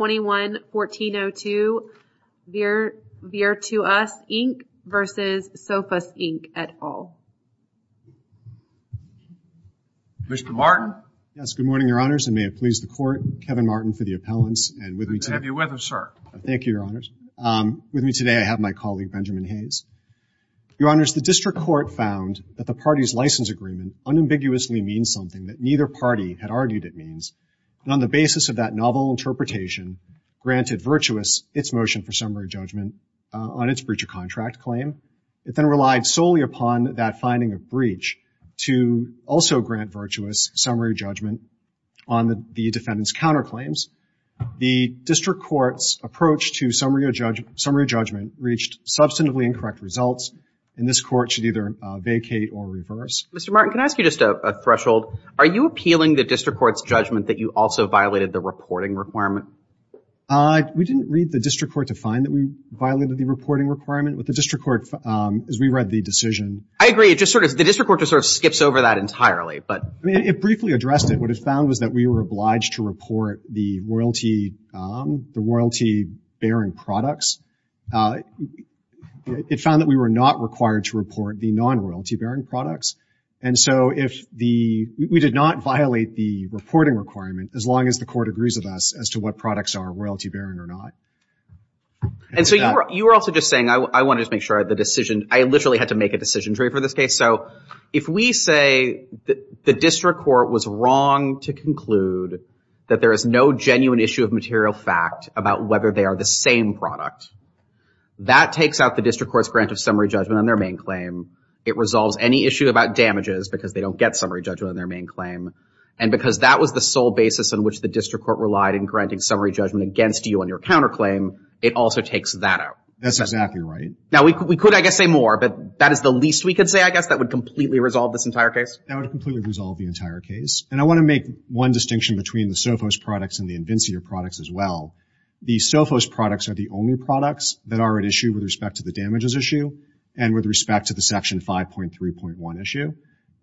Mr. Martin? Yes, good morning, Your Honors, and may it please the Court, Kevin Martin for the appellants, and with me today— Good to have you with us, sir. Thank you, Your Honors. With me today I have my colleague, Benjamin Hayes. Your Honors, the District Court found that the parties' license agreement unambiguously means something that neither party had argued it means, and on the basis of that novel interpretation, the District Court found that the parties' license agreement unambiguously granted Virtuous its motion for summary judgment on its breach of contract claim. It then relied solely upon that finding of breach to also grant Virtuous summary judgment on the defendant's counterclaims. The District Court's approach to summary judgment reached substantively incorrect results, and this Court should either vacate or reverse. Mr. Martin, can I ask you just a threshold? Are you appealing the District Court's judgment that you also violated the reporting requirement? We didn't read the District Court to find that we violated the reporting requirement, but the District Court, as we read the decision— I agree. It just sort of—the District Court just sort of skips over that entirely, but— I mean, it briefly addressed it. What it found was that we were obliged to report the royalty-bearing products. It found that we were not required to report the non-royalty-bearing products, and so if the—we did not violate the reporting requirement, as long as the Court agrees with us as to what products are royalty-bearing or not. And so you were also just saying—I want to just make sure the decision— I literally had to make a decision tree for this case. So if we say that the District Court was wrong to conclude that there is no genuine issue of material fact about whether they are the same product, that takes out the District Court's grant of summary judgment on their main claim. It resolves any issue about damages because they don't get summary judgment on their main claim. And because that was the sole basis on which the District Court relied in granting summary judgment against you on your counterclaim, it also takes that out. That's exactly right. Now, we could, I guess, say more, but that is the least we could say, I guess, that would completely resolve this entire case? That would completely resolve the entire case. And I want to make one distinction between the Sophos products and the Invincior products as well. The Sophos products are the only products that are at issue with respect to the damages issue and with respect to the Section 5.3.1 issue.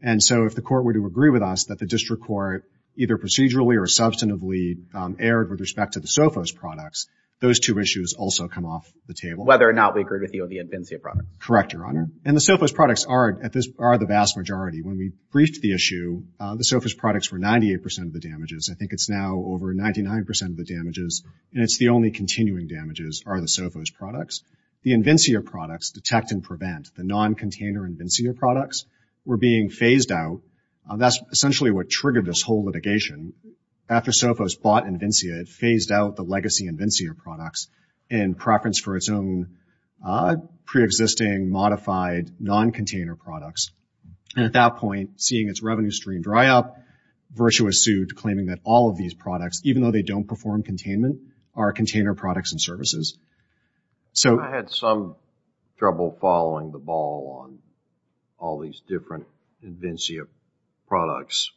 And so if the Court were to agree with us that the District Court either procedurally or substantively erred with respect to the Sophos products, those two issues also come off the table. Whether or not we agree with you on the Invincior product. Correct, Your Honor. And the Sophos products are the vast majority. When we briefed the issue, the Sophos products were 98% of the damages. I think it's now over 99% of the damages, and it's the only continuing damages are the Sophos products. The Invincior products, Detect and Prevent, the non-container Invincior products, were being phased out. That's essentially what triggered this whole litigation. After Sophos bought Invincior, it phased out the legacy Invincior products in preference for its own pre-existing, modified, non-container products. And at that point, seeing its revenue stream dry up, Virtue was sued, claiming that all of these products, even though they don't perform containment, are container products and services. I had some trouble following the ball on all these different Invincior products,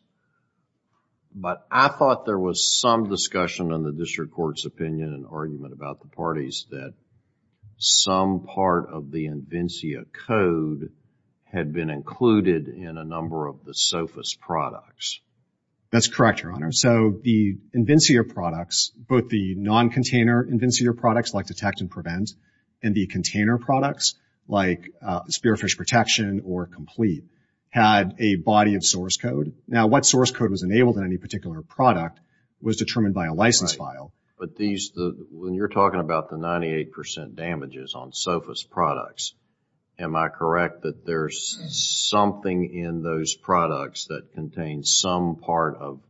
but I thought there was some discussion in the district court's opinion and argument about the parties that some part of the Invincior code had been included in a number of the Sophos products. That's correct, Your Honor. So the Invincior products, both the non-container Invincior products, like Detect and Prevent, and the container products, like Spearfish Protection or Complete, had a body and source code. Now, what source code was enabled in any particular product was determined by a license file. But when you're talking about the 98% damages on Sophos products, am I correct that there's something in those products that contains some part of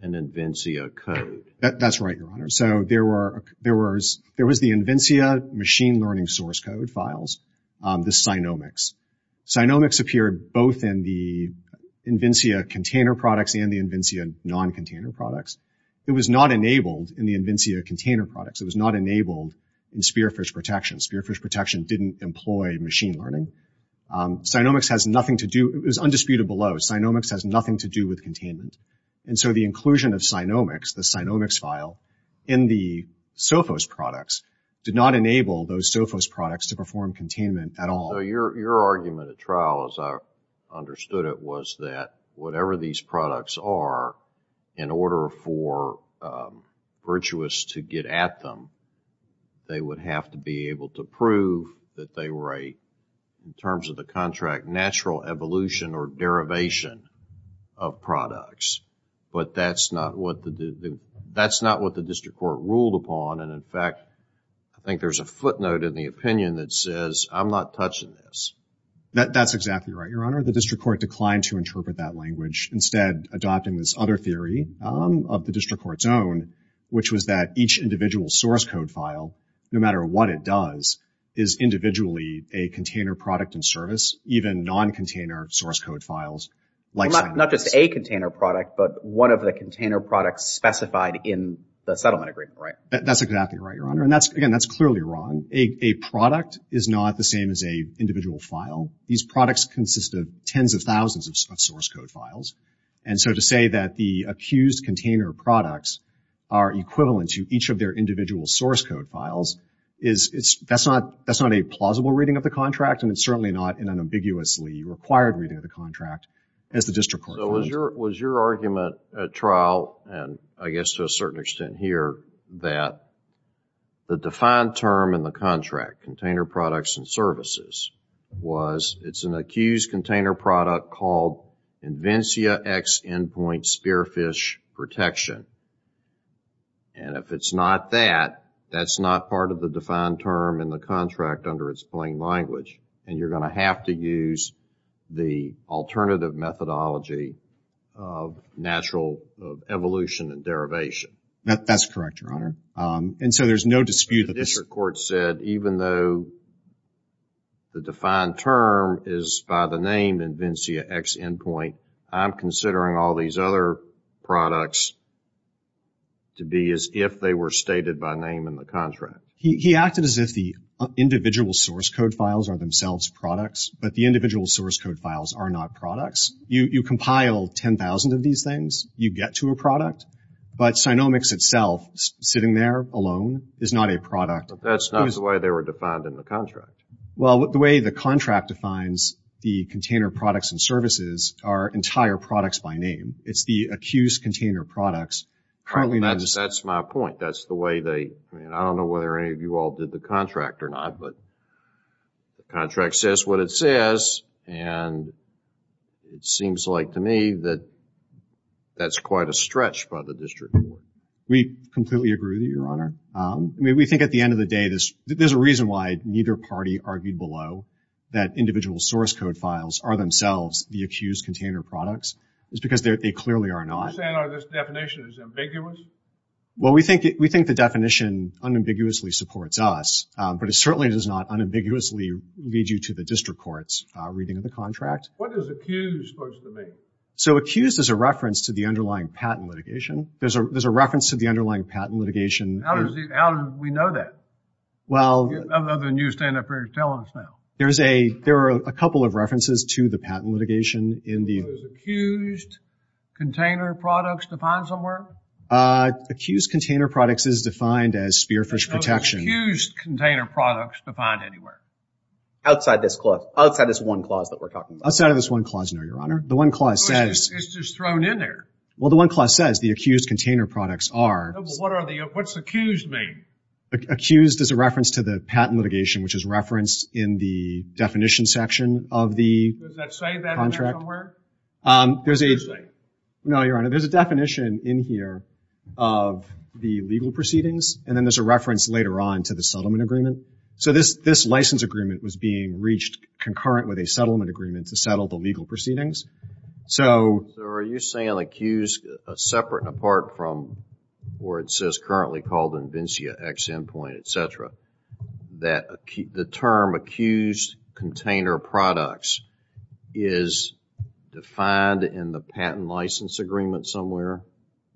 an Invincior code? That's right, Your Honor. So there was the Invincior machine learning source code files, the Sinomics. Sinomics appeared both in the Invincior container products and the Invincior non-container products. It was not enabled in the Invincior container products. It was not enabled in Spearfish Protection. Spearfish Protection didn't employ machine learning. Sinomics has nothing to do, it was undisputed below, Sinomics has nothing to do with containment. And so the inclusion of Sinomics, the Sinomics file, in the Sophos products did not enable those Sophos products to perform containment at all. So your argument at trial, as I understood it, was that whatever these products are, in order for virtuous to get at them, they would have to be able to prove that they were a, in terms of the contract, natural evolution or derivation of products. But that's not what the district court ruled upon, and in fact, I think there's a footnote in the opinion that says, I'm not touching this. That's exactly right, Your Honor. The district court declined to interpret that language, instead adopting this other theory of the district court's own, which was that each individual source code file, no matter what it does, is individually a container product and service, even non-container source code files like Sinomics. Well, not just a container product, but one of the container products specified in the settlement agreement, right? That's exactly right, Your Honor. And that's, again, that's clearly wrong. A product is not the same as a individual file. These products consist of tens of thousands of source code files. And so to say that the accused container products are equivalent to each of their individual source code files, that's not a plausible reading of the contract, and it's certainly not an unambiguously required reading of the contract as the district court ruled. So was your argument at trial, and I guess to a certain extent here, that the defined term in the contract, container products and services, was it's an accused container product called Invencia X Endpoint Spearfish Protection. And if it's not that, that's not part of the defined term in the contract under its plain language. And you're going to have to use the alternative methodology of natural evolution and derivation. That's correct, Your Honor. And so there's no dispute that this is... the defined term is by the name Invencia X Endpoint. I'm considering all these other products to be as if they were stated by name in the contract. He acted as if the individual source code files are themselves products, but the individual source code files are not products. You compile 10,000 of these things, you get to a product. But Sinomix itself, sitting there alone, is not a product. That's not the way they were defined in the contract. Well, the way the contract defines the container products and services are entire products by name. It's the accused container products. That's my point. That's the way they... I don't know whether any of you all did the contract or not, but the contract says what it says, and it seems like to me that that's quite a stretch by the district court. We completely agree with you, Your Honor. We think at the end of the day, there's a reason why neither party argued below that individual source code files are themselves the accused container products. It's because they clearly are not. You're saying this definition is ambiguous? Well, we think the definition unambiguously supports us, but it certainly does not unambiguously lead you to the district court's reading of the contract. What does accused supposed to mean? So accused is a reference to the underlying patent litigation. There's a reference to the underlying patent litigation. How do we know that? Well... Other than you standing up here telling us now. There are a couple of references to the patent litigation in the... So is accused container products defined somewhere? Accused container products is defined as spearfish protection. There's no accused container products defined anywhere. Outside this clause. Outside this one clause that we're talking about. Outside of this one clause, no, Your Honor. The one clause says... It's just thrown in there. Well, the one clause says the accused container products are... What's accused mean? Accused is a reference to the patent litigation, which is referenced in the definition section of the contract. Does that say that in there somewhere? What does it say? No, Your Honor. There's a definition in here of the legal proceedings, and then there's a reference later on to the settlement agreement. So this license agreement was being reached concurrent with a settlement agreement to settle the legal proceedings. So... Or it says currently called Invincia X endpoint, et cetera. The term accused container products is defined in the patent license agreement somewhere?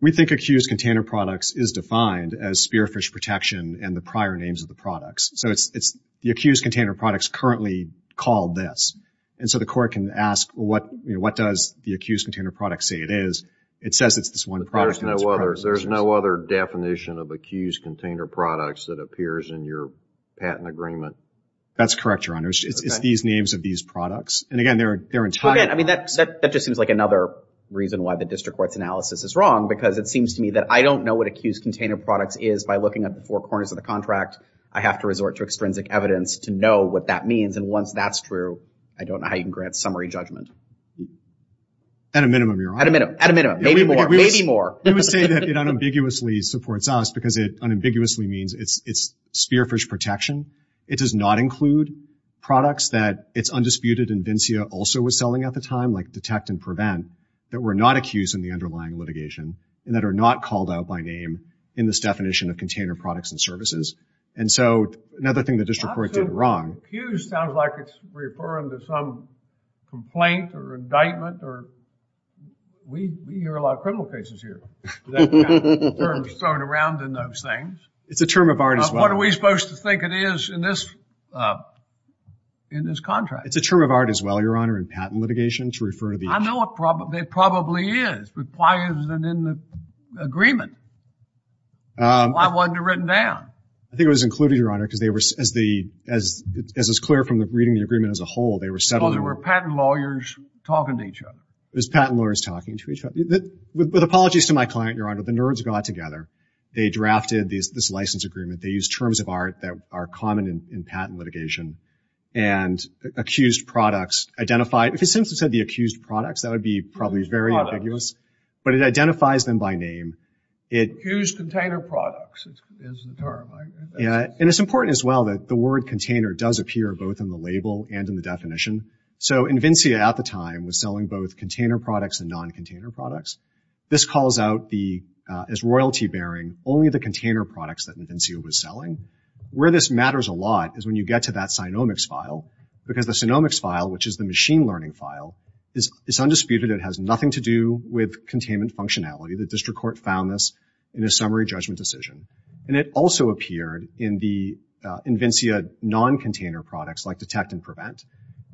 We think accused container products is defined as spearfish protection and the prior names of the products. So it's the accused container products currently called this. And so the court can ask what does the accused container products say it is. It says it's this one product. There's no other definition of accused container products that appears in your patent agreement? That's correct, Your Honor. It's these names of these products. And, again, they're entirely... Okay. I mean, that just seems like another reason why the district court's analysis is wrong because it seems to me that I don't know what accused container products is by looking at the four corners of the contract. I have to resort to extrinsic evidence to know what that means. At a minimum, Your Honor. At a minimum. Maybe more. Maybe more. We would say that it unambiguously supports us because it unambiguously means it's spearfish protection. It does not include products that it's undisputed Invincia also was selling at the time, like detect and prevent, that were not accused in the underlying litigation and that are not called out by name in this definition of container products and services. And so another thing the district court did wrong... We hear a lot of criminal cases here. They're thrown around in those things. It's a term of art as well. What are we supposed to think it is in this contract? It's a term of art as well, Your Honor, in patent litigation to refer to the... I know it probably is, but why isn't it in the agreement? Why wasn't it written down? I think it was included, Your Honor, because as is clear from reading the agreement as a whole, they were settled... Oh, they were patent lawyers talking to each other. It was patent lawyers talking to each other. With apologies to my client, Your Honor, the nerds got together. They drafted this license agreement. They used terms of art that are common in patent litigation and accused products identified. If it simply said the accused products, that would be probably very ambiguous. But it identifies them by name. Accused container products is the term. And it's important as well that the word container does appear both in the label and in the definition. So, Invincia at the time was selling both container products and non-container products. This calls out as royalty bearing only the container products that Invincia was selling. Where this matters a lot is when you get to that Sinomics file because the Sinomics file, which is the machine learning file, is undisputed. It has nothing to do with containment functionality. The district court found this in a summary judgment decision. And it also appeared in the Invincia non-container products, like detect and prevent.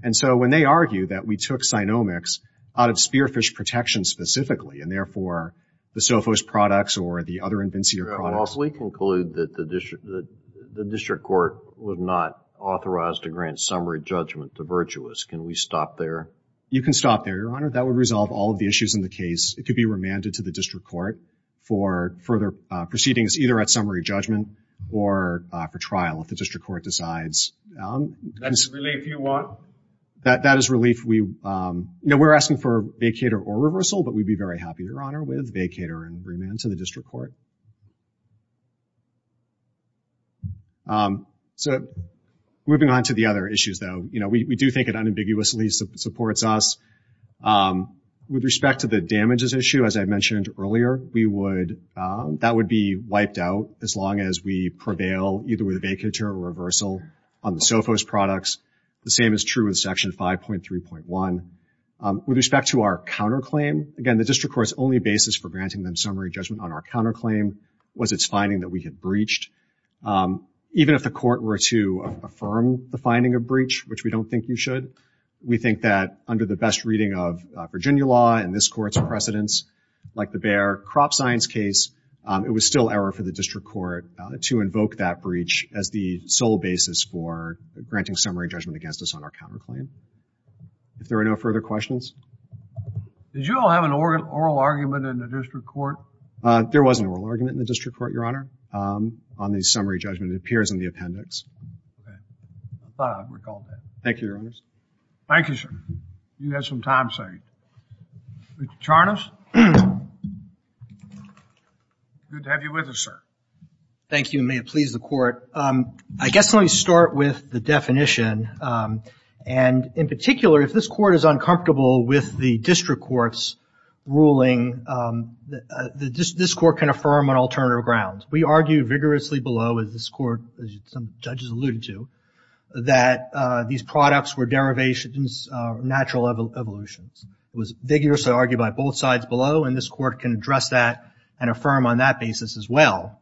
And so when they argue that we took Sinomics out of spearfish protection specifically and therefore the Sophos products or the other Invincia products. Well, if we conclude that the district court was not authorized to grant summary judgment to Virtuous, can we stop there? You can stop there, Your Honor. That would resolve all of the issues in the case. It could be remanded to the district court for further proceedings either at summary judgment or for trial if the district court decides. That's relief you want? That is relief. We're asking for vacater or reversal, but we'd be very happy, Your Honor, with vacater and remand to the district court. Moving on to the other issues, though. We do think it unambiguously supports us. With respect to the damages issue, as I mentioned earlier, that would be wiped out as long as we prevail either with vacater or reversal on the Sophos products. The same is true with Section 5.3.1. With respect to our counterclaim, again, the district court's only basis for granting them summary judgment on our counterclaim was its finding that we had breached. Even if the court were to affirm the finding of breach, which we don't think you should, we think that under the best reading of Virginia law and this court's precedence, like the Bayer crop science case, it was still error for the district court to invoke that breach as the sole basis for granting summary judgment against us on our counterclaim. If there are no further questions? Did you all have an oral argument in the district court? There was an oral argument in the district court, Your Honor, on the summary judgment. It appears in the appendix. I thought I recalled that. Thank you, Your Honors. Thank you, sir. You had some time saved. Mr. Charnas? Good to have you with us, sir. Thank you, and may it please the court. I guess let me start with the definition. And in particular, if this court is uncomfortable with the district court's ruling, this court can affirm on alternative grounds. We argue vigorously below, as this court, as some judges alluded to, that these products were derivations, natural evolutions. It was vigorously argued by both sides below, and this court can address that and affirm on that basis as well.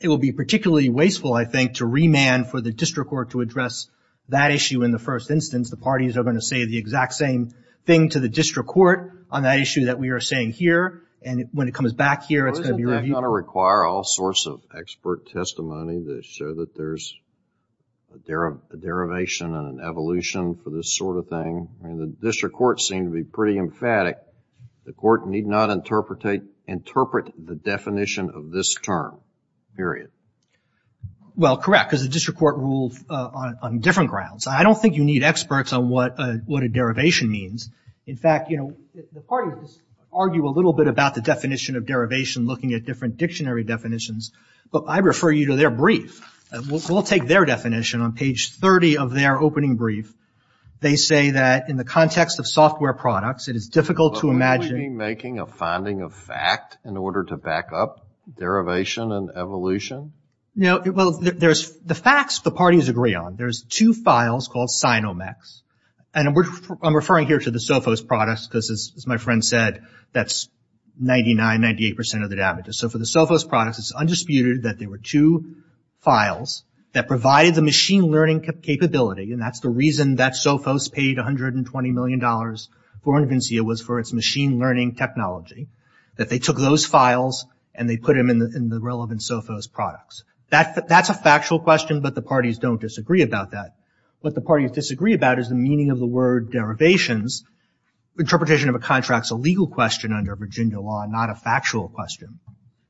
It will be particularly wasteful, I think, to remand for the district court to address that issue in the first instance. The parties are going to say the exact same thing to the district court on that issue that we are saying here, and when it comes back here, it's going to be reviewed. Well, isn't that going to require all sorts of expert testimony to show that there's a derivation and an evolution for this sort of thing? I mean, the district courts seem to be pretty emphatic. The court need not interpret the definition of this term, period. Well, correct, because the district court rules on different grounds. I don't think you need experts on what a derivation means. In fact, the parties argue a little bit about the definition of derivation looking at different dictionary definitions, but I refer you to their brief. We'll take their definition. On page 30 of their opening brief, they say that in the context of software products, it is difficult to imagine. Are we going to be making a finding of fact in order to back up derivation and evolution? Well, there's the facts the parties agree on. There's two files called Sinomex, and I'm referring here to the Sophos products because, as my friend said, that's 99, 98% of the damages. So for the Sophos products, it's undisputed that there were two files that provided the machine learning capability, and that's the reason that Sophos paid $120 million for Invencia was for its machine learning technology, that they took those files and they put them in the relevant Sophos products. That's a factual question, but the parties don't disagree about that. What the parties disagree about is the meaning of the word derivations. Interpretation of a contract is a legal question under Virginia law, not a factual question.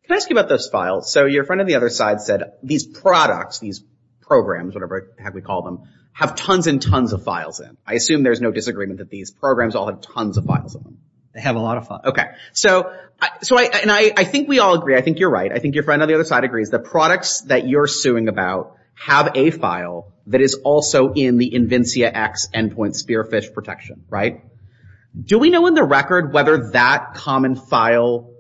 Can I ask you about those files? So your friend on the other side said these products, these programs, whatever we call them, have tons and tons of files in them. I assume there's no disagreement that these programs all have tons of files in them. They have a lot of files. Okay. So, and I think we all agree, I think you're right, I think your friend on the other side agrees, the products that you're suing about have a file that is also in the Invencia X Endpoint Spearfish Protection, right? Do we know in the record whether that common file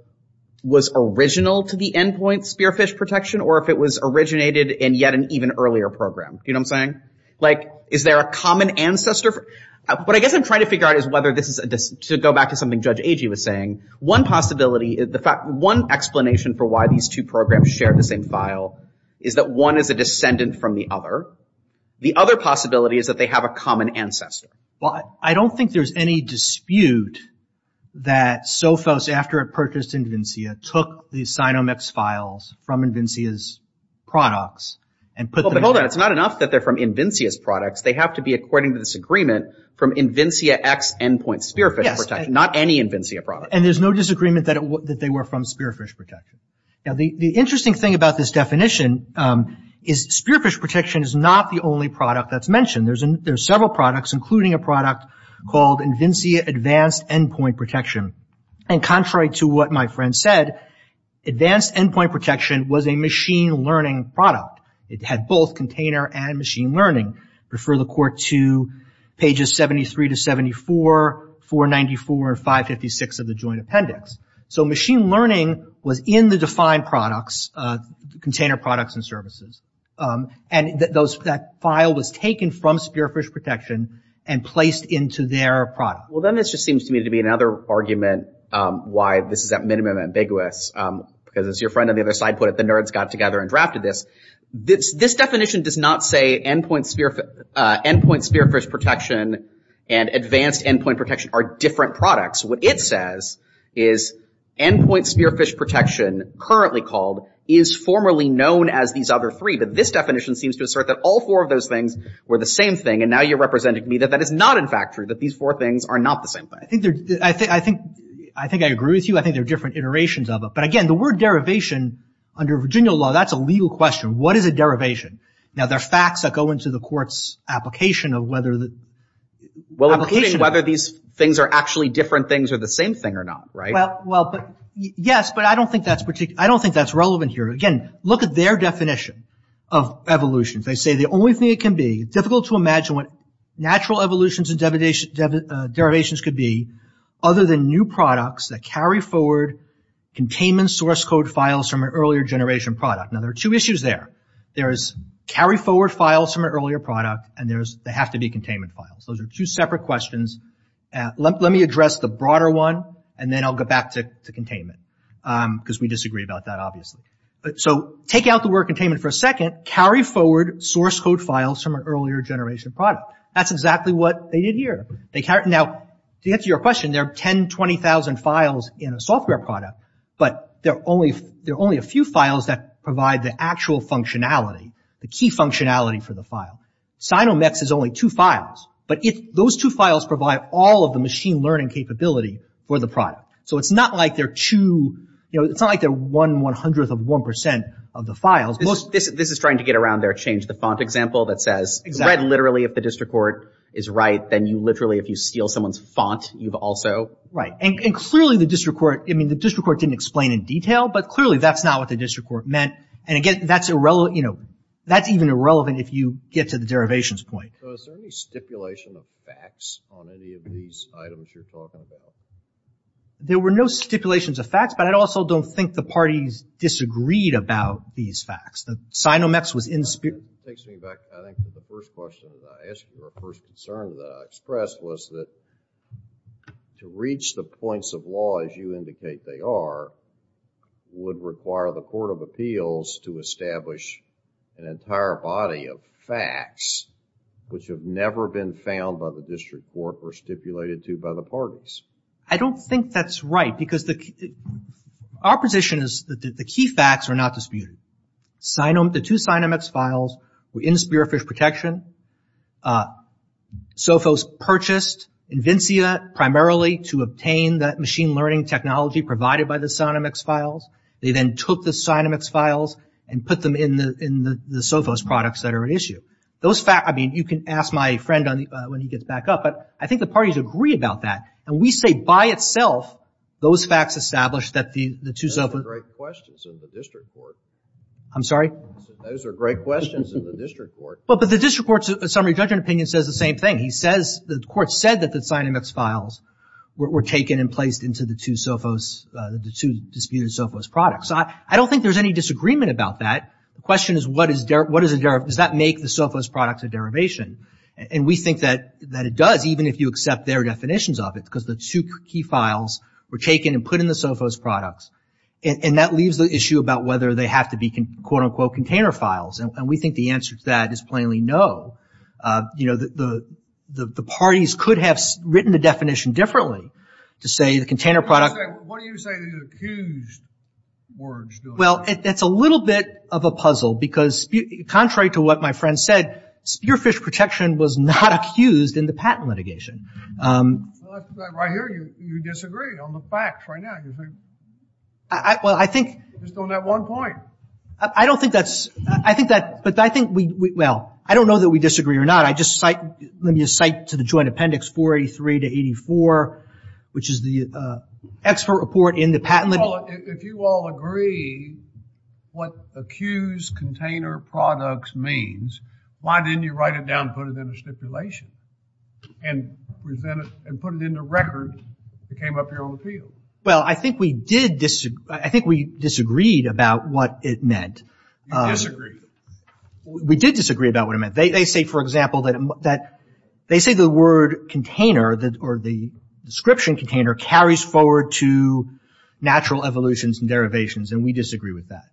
was original to the Endpoint Spearfish Protection or if it was originated in yet an even earlier program? You know what I'm saying? Like, is there a common ancestor? What I guess I'm trying to figure out is whether this is, to go back to something Judge Agee was saying, one possibility, the fact, one explanation for why these two programs share the same file is that one is a descendant from the other. The other possibility is that they have a common ancestor. Well, I don't think there's any dispute that Sophos, after it purchased Invencia, took the Sinomex files from Invencia's products and put them in... Well, but hold on, it's not enough that they're from Invencia's products. They have to be, according to this agreement, from Invencia X Endpoint Spearfish Protection, not any Invencia product. And there's no disagreement that they were from Spearfish Protection. Now, the interesting thing about this definition is Spearfish Protection is not the only product that's mentioned. There's several products, including a product called Invencia Advanced Endpoint Protection. And contrary to what my friend said, Advanced Endpoint Protection was a machine learning product. It had both container and machine learning. Refer the court to pages 73 to 74, 494 and 556 of the joint appendix. So machine learning was in the defined products, container products and services. And that file was taken from Spearfish Protection and placed into their product. Well, then this just seems to me to be another argument why this is at minimum ambiguous. Because as your friend on the other side put it, the nerds got together and drafted this. This definition does not say Endpoint Spearfish Protection and Advanced Endpoint Protection are different products. What it says is Endpoint Spearfish Protection, currently called, is formerly known as these other three. But this definition seems to assert that all four of those things were the same thing. And now you're representing to me that that is not in fact true, that these four things are not the same thing. I think I agree with you. I think there are different iterations of it. But again, the word derivation, under Virginia law, that's a legal question. What is a derivation? Now, there are facts that go into the court's application of whether the... Well, including whether these things are actually different things or the same thing or not, right? Yes, but I don't think that's relevant here. Again, look at their definition of evolution. They say the only thing it can be, it's difficult to imagine what natural evolutions and derivations could be other than new products that carry forward containment source code files from an earlier generation product. Now, there are two issues there. There's carry forward files from an earlier product and there's they have to be containment files. Those are two separate questions. Let me address the broader one and then I'll go back to containment because we disagree about that, obviously. So, take out the word containment for a second. Carry forward source code files from an earlier generation product. That's exactly what they did here. Now, to answer your question, there are 10,000, 20,000 files in a software product, but there are only a few files that provide the actual functionality, the key functionality for the file. Sinomex is only two files, but those two files provide all of the machine learning capability for the product. So, it's not like they're two... It's not like they're one one-hundredth of one percent of the files. This is trying to get around their change the font example that says, read literally if the district court is right, then you literally, if you steal someone's font, you've also... Right. And clearly the district court, I mean, the district court didn't explain in detail, but clearly that's not what the district court meant. And again, that's irrelevant, you know, that's even irrelevant if you get to the derivations point. So, is there any stipulation of facts on any of these items you're talking about? There were no stipulations of facts, but I also don't think the parties disagreed about these facts. Sinomex was... It takes me back, I think, to the first question that I asked you, or first concern that I expressed was that to reach the points of law, as you indicate they are, would require the court of appeals to establish an entire body of facts which have never been found by the district court or stipulated to by the parties. I don't think that's right because the... Our position is that the key facts are not disputed. The two Sinomex files were in Spearfish Protection. Sophos purchased Invincia primarily to obtain that machine learning technology provided by the Sinomex files. They then took the Sinomex files and put them in the Sophos products that are at issue. I mean, you can ask my friend when he gets back up, but I think the parties agree about that, and we say by itself those facts establish that the two Sophos... Those are great questions in the district court. I'm sorry? Those are great questions in the district court. But the district court's summary judgment opinion says the same thing. He says the court said that the Sinomex files were taken and placed into the two disputed Sophos products. I don't think there's any disagreement about that. The question is what does that make the Sophos products a derivation? And we think that it does, even if you accept their definitions of it, because the two key files were taken and put in the Sophos products. And that leaves the issue about whether they have to be quote-unquote container files. And we think the answer to that is plainly no. You know, the parties could have written the definition differently to say the container product... What do you say to the accused words? Well, it's a little bit of a puzzle, because contrary to what my friend said, spearfish protection was not accused in the patent litigation. Right here you disagree on the facts right now. Well, I think... Just on that one point. I don't think that's... I think that... Well, I don't know that we disagree or not. Let me just cite to the joint appendix 483 to 84, which is the expert report in the patent litigation. If you all agree what accused container products means, why didn't you write it down and put it in a stipulation and put it in the record that came up here on the field? Well, I think we disagreed about what it meant. You disagreed? We did disagree about what it meant. They say, for example, that... They say the word container or the description container carries forward to natural evolutions and derivations, and we disagree with that.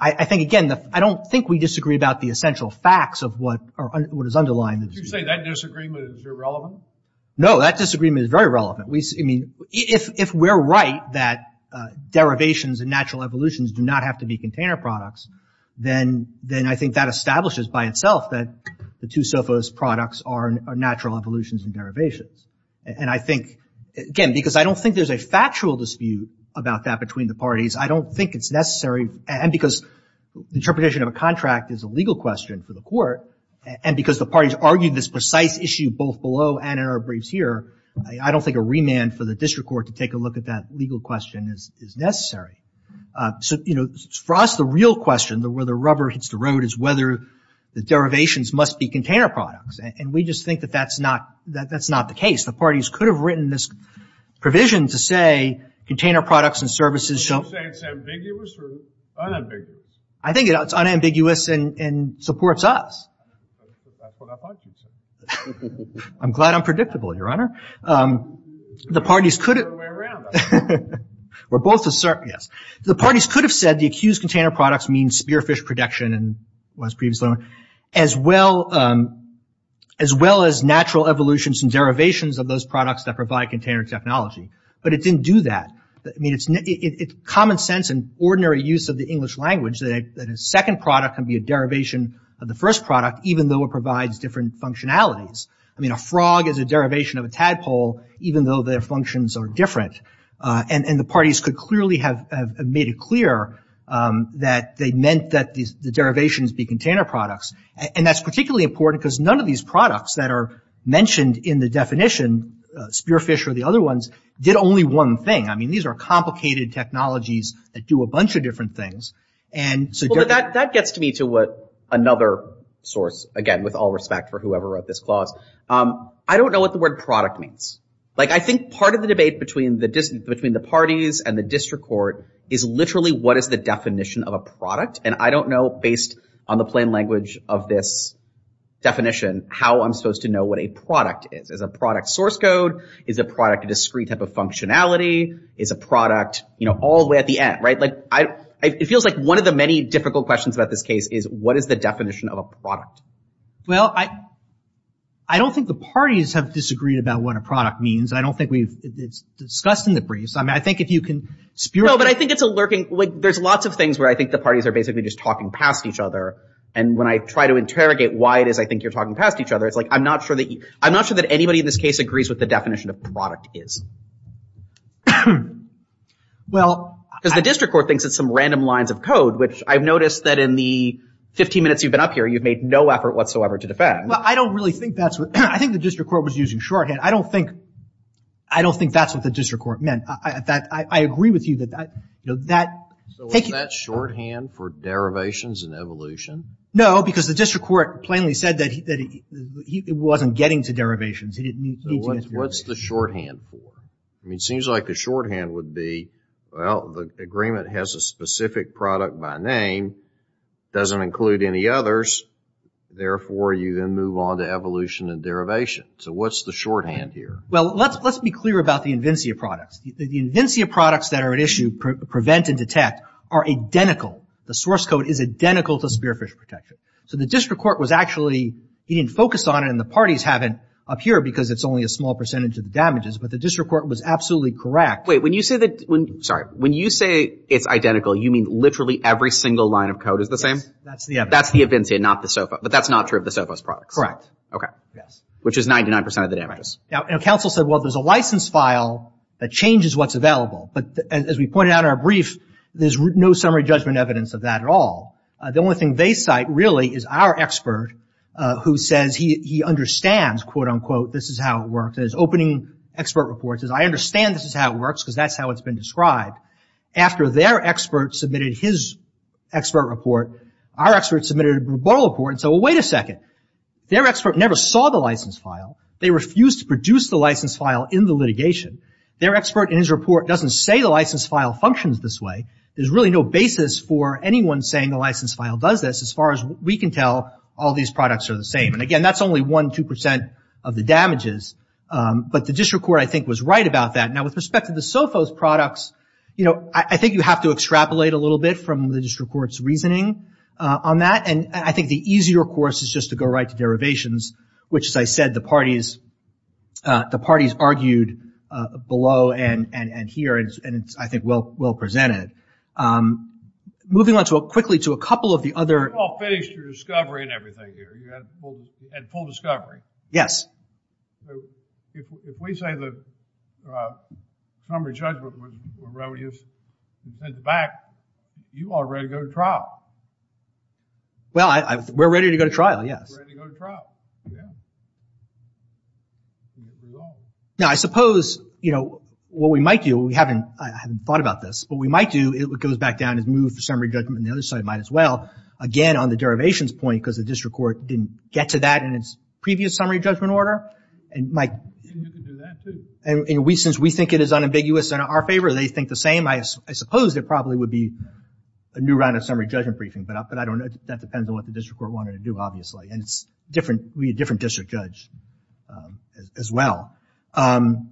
I think, again, I don't think we disagree about the essential facts of what is underlined. Did you say that disagreement is irrelevant? No, that disagreement is very relevant. I mean, if we're right that derivations and natural evolutions do not have to be container products, then I think that establishes by itself that the two SOFOs products are natural evolutions and derivations. And I think, again, because I don't think there's a factual dispute about that between the parties. I don't think it's necessary, and because the interpretation of a contract is a legal question for the court, and because the parties argued this precise issue both below and in our briefs here, I don't think a remand for the district court to take a look at that legal question is necessary. So, you know, for us, the real question, where the rubber hits the road, is whether the derivations must be container products, and we just think that that's not the case. The parties could have written this provision to say container products and services shall... Are you saying it's ambiguous or unambiguous? I think it's unambiguous and supports us. I thought that's what I thought you said. I'm glad I'm predictable, Your Honor. The parties could have... There's no other way around it. We're both assert... yes. The parties could have said the accused container products means spearfish production and what was previously known, as well as natural evolutions and derivations of those products that provide container technology. But it didn't do that. I mean, it's common sense and ordinary use of the English language that a second product can be a derivation of the first product, even though it provides different functionalities. I mean, a frog is a derivation of a tadpole, even though their functions are different. And the parties could clearly have made it clear that they meant that the derivations be container products. And that's particularly important because none of these products that are mentioned in the definition, spearfish or the other ones, did only one thing. I mean, these are complicated technologies that do a bunch of different things. And so... Well, that gets to me to what another source, again, with all respect for whoever wrote this clause. I don't know what the word product means. Like, I think part of the debate between the parties and the district court is literally what is the definition of a product. And I don't know, based on the plain language of this definition, how I'm supposed to know what a product is. Is a product source code? Is a product a discrete type of functionality? Is a product, you know, all the way at the end, right? Like, it feels like one of the many difficult questions about this case is what is the definition of a product. Well, I don't think the parties have disagreed about what a product means. I don't think we've discussed in the briefs. I mean, I think if you can spew out... No, but I think it's a lurking... Like, there's lots of things where I think the parties are basically just talking past each other. And when I try to interrogate why it is I think you're talking past each other, it's like I'm not sure that anybody in this case agrees what the definition of product is. Well... Because the district court thinks it's some random lines of code, which I've noticed that in the 15 minutes you've been up here you've made no effort whatsoever to defend. Well, I don't really think that's what... I think the district court was using shorthand. I don't think that's what the district court meant. I agree with you that, you know, that... So was that shorthand for derivations and evolution? No, because the district court plainly said that he wasn't getting to derivations. He didn't need to get to... So what's the shorthand for? I mean, it seems like the shorthand would be, well, the agreement has a specific product by name, doesn't include any others, therefore you then move on to evolution and derivation. So what's the shorthand here? Well, let's be clear about the Invincia products. The Invincia products that are at issue, prevent and detect, are identical. The source code is identical to Spearfish Protection. So the district court was actually... He didn't focus on it and the parties haven't up here because it's only a small percentage of the damages, but the district court was absolutely correct. Wait, when you say that... Sorry, when you say it's identical, you mean literally every single line of code is the same? Yes, that's the Invincia. That's the Invincia, not the SOFA. But that's not true of the SOFA's products? Correct. Okay. Yes. Which is 99% of the damages. Now, counsel said, well, there's a license file that changes what's available. But as we pointed out in our brief, there's no summary judgment evidence of that at all. The only thing they cite really is our expert who says he understands, quote, unquote, this is how it works. In his opening expert report, he says, I understand this is how it works because that's how it's been described. After their expert submitted his expert report, our expert submitted a rebuttal report and said, well, wait a second. Their expert never saw the license file. They refused to produce the license file in the litigation. Their expert in his report doesn't say the license file functions this way. There's really no basis for anyone saying the license file does this as far as we can tell all these products are the same. And, again, that's only 1%, 2% of the damages. But the district court, I think, was right about that. Now, with respect to the SOFA's products, you know, I think you have to extrapolate a little bit from the district court's reasoning on that. And I think the easier course is just to go right to derivations, which, as I said, the parties argued below and here, and it's, I think, well presented. Moving on quickly to a couple of the other. You all finished your discovery and everything here. You had full discovery. Yes. If we say the summary judgment was erroneous and sent it back, you are ready to go to trial. Well, we're ready to go to trial, yes. Ready to go to trial, yeah. Now, I suppose, you know, what we might do, we haven't thought about this, but we might do, it goes back down as move for summary judgment, and the other side might as well. Again, on the derivations point, because the district court didn't get to that in its previous summary judgment order. And since we think it is unambiguous in our favor, they think the same, I suppose there probably would be a new round of summary judgment briefing. But I don't know. That depends on what the district court wanted to do, obviously. And it would be a different district judge as well. You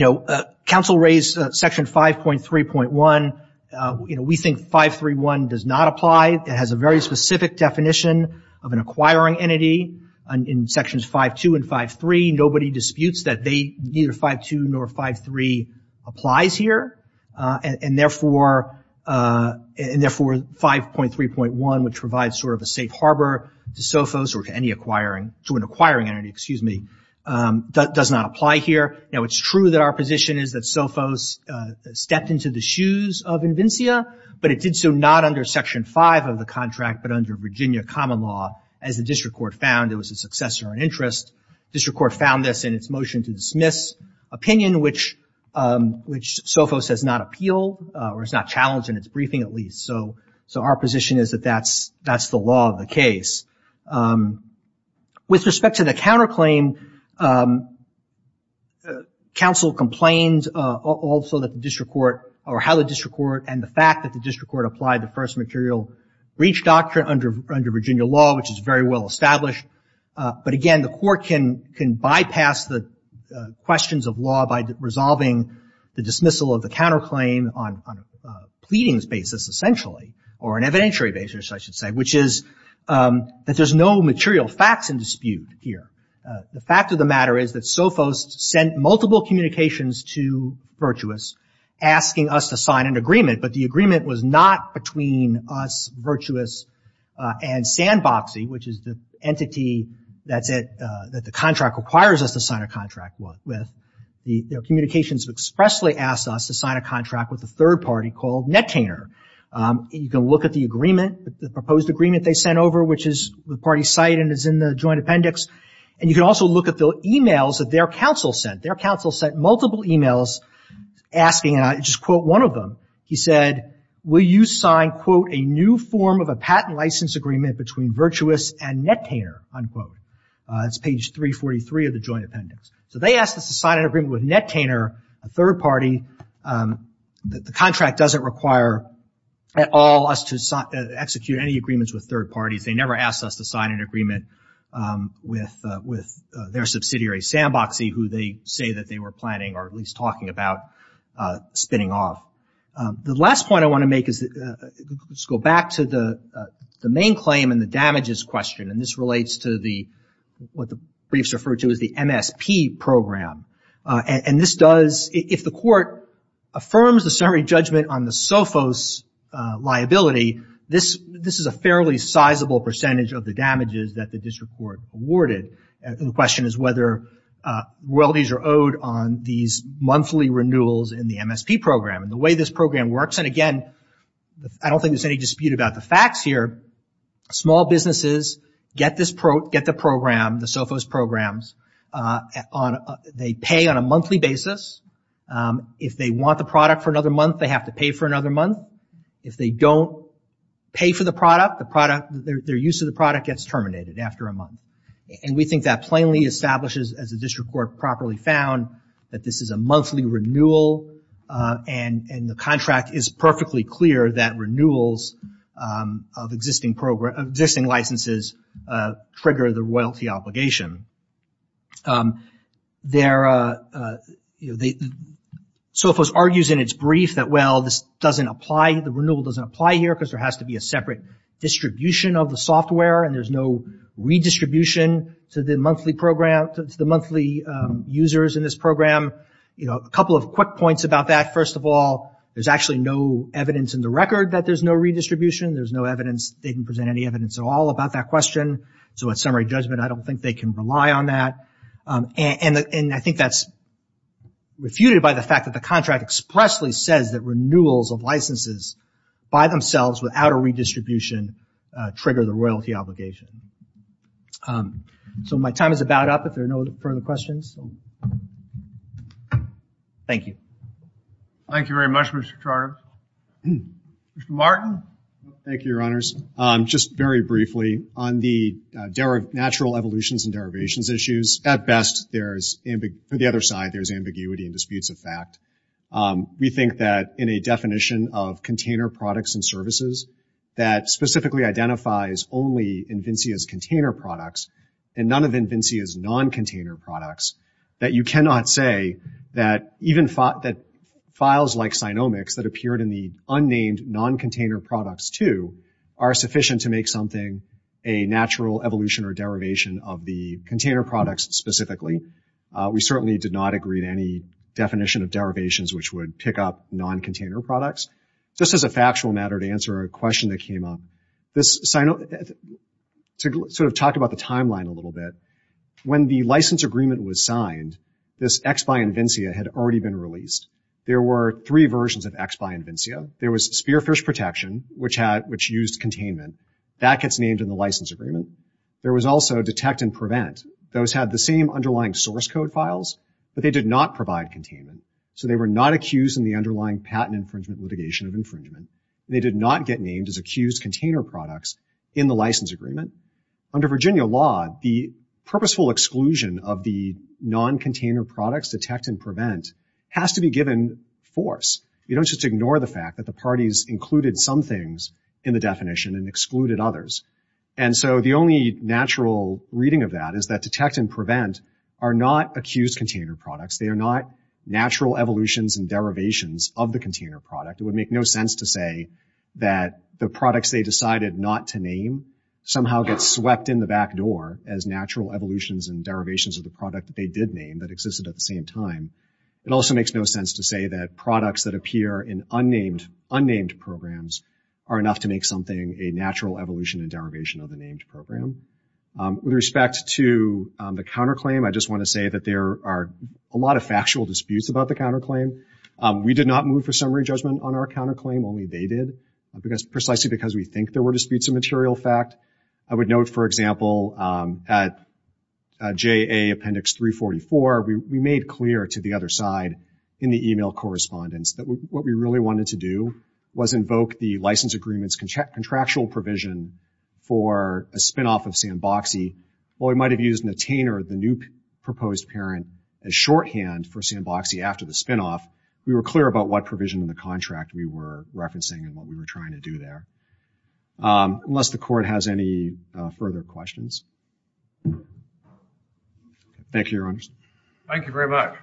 know, council raised section 5.3.1. You know, we think 5.3.1 does not apply. It has a very specific definition of an acquiring entity. In sections 5.2 and 5.3, nobody disputes that neither 5.2 nor 5.3 applies here. And therefore, 5.3.1, which provides sort of a safe harbor to SOFOs or to any acquiring, to an acquiring entity, excuse me, does not apply here. Now, it's true that our position is that SOFOs stepped into the shoes of Invincia, but it did so not under section 5 of the contract, but under Virginia common law. As the district court found, it was a success or an interest. District court found this in its motion to dismiss opinion, which SOFOs has not appealed or is not challenged in its briefing, at least. So our position is that that's the law of the case. With respect to the counterclaim, council complained also that the district court, or how the district court and the fact that the district court applied the first material breach doctrine under Virginia law, which is very well established. But again, the court can bypass the questions of law by resolving the dismissal of the SOFOs on a pleading basis essentially, or an evidentiary basis, I should say, which is that there's no material facts in dispute here. The fact of the matter is that SOFOs sent multiple communications to Virtuous asking us to sign an agreement, but the agreement was not between us, Virtuous, and Sandboxy, which is the entity that the contract requires us to sign a contract with. The communications expressly asked us to sign a contract with a third party called NetTainer. You can look at the agreement, the proposed agreement they sent over, which is the party's site and is in the joint appendix, and you can also look at the emails that their council sent. Their council sent multiple emails asking, and I'll just quote one of them. He said, will you sign, quote, a new form of a patent license agreement between Virtuous and NetTainer, unquote. It's page 343 of the joint appendix. So they asked us to sign an agreement with NetTainer, a third party. The contract doesn't require at all us to execute any agreements with third parties. They never asked us to sign an agreement with their subsidiary, Sandboxy, who they say that they were planning, or at least talking about spinning off. The last point I want to make is, let's go back to the main claim and the damages question, and this relates to what the briefs refer to as the MSP program. This does, if the court affirms the summary judgment on the SOPHOS liability, this is a fairly sizable percentage of the damages that the district court awarded. The question is whether royalties are owed on these monthly renewals in the MSP program. The way this program works, and again, I don't think there's any dispute about the facts here, small businesses get the program, the SOPHOS programs, they pay on a monthly basis. If they want the product for another month, they have to pay for another month. If they don't pay for the product, their use of the product gets terminated after a month. And we think that plainly establishes, as the district court properly found, that this is a monthly renewal, and the contract is perfectly clear that renewals of existing licenses trigger the royalty obligation. SOPHOS argues in its brief that, well, this doesn't apply, the renewal doesn't apply here because there has to be a separate distribution of the software, and there's no redistribution to the monthly program, to the monthly users in this program. A couple of quick points about that. First of all, there's actually no evidence in the record that there's no redistribution. There's no evidence, they didn't present any evidence at all about that question. So at summary judgment, I don't think they can rely on that. And I think that's refuted by the fact that the contract expressly says that renewals of licenses by themselves without a redistribution trigger the royalty obligation. So my time is about up if there are no further questions. Thank you. Thank you very much, Mr. Charter. Mr. Martin. Thank you, Your Honors. Just very briefly on the natural evolutions and derivations issues, at best there's, for the other side there's ambiguity and disputes of fact. We think that in a definition of container products and services that specifically identifies only InVinci as container products and none of InVinci as non-container products, that you cannot say that even files like Sinomix that appeared in the products too, are sufficient to make something a natural evolution or derivation of the container products specifically. We certainly did not agree to any definition of derivations which would pick up non-container products. Just as a factual matter to answer a question that came up, to sort of talk about the timeline a little bit, when the license agreement was signed, this X by InVinci had already been released. There were three versions of X by InVinci. There was Spearfish Protection, which used containment. That gets named in the license agreement. There was also Detect and Prevent. Those had the same underlying source code files, but they did not provide containment. So they were not accused in the underlying patent infringement litigation of infringement. They did not get named as accused container products in the license agreement. Under Virginia law, the purposeful exclusion of the non-container products, Detect and Prevent, has to be given force. You don't just ignore the fact that the parties included some things in the definition and excluded others. And so the only natural reading of that is that Detect and Prevent are not accused container products. They are not natural evolutions and derivations of the container product. It would make no sense to say that the products they decided not to name somehow get swept in the back door as natural evolutions and derivations of the product that they did name that existed at the same time. It also makes no sense to say that products that appear in unnamed programs are enough to make something a natural evolution and derivation of the named program. With respect to the counterclaim, I just want to say that there are a lot of factual disputes about the counterclaim. We did not move for summary judgment on our counterclaim, only they did, precisely because we think there were disputes of material fact. I would note, for example, at JA Appendix 344, we made clear to the other side in the e-mail correspondence that what we really wanted to do was invoke the license agreement's contractual provision for a spinoff of Sandboxy. While we might have used Netainer, the new proposed parent, as shorthand for Sandboxy after the spinoff, we were clear about what provision in the contract we were referencing and what we were trying to do there. Unless the Court has any further questions. Thank you, Your Honor. Thank you very much.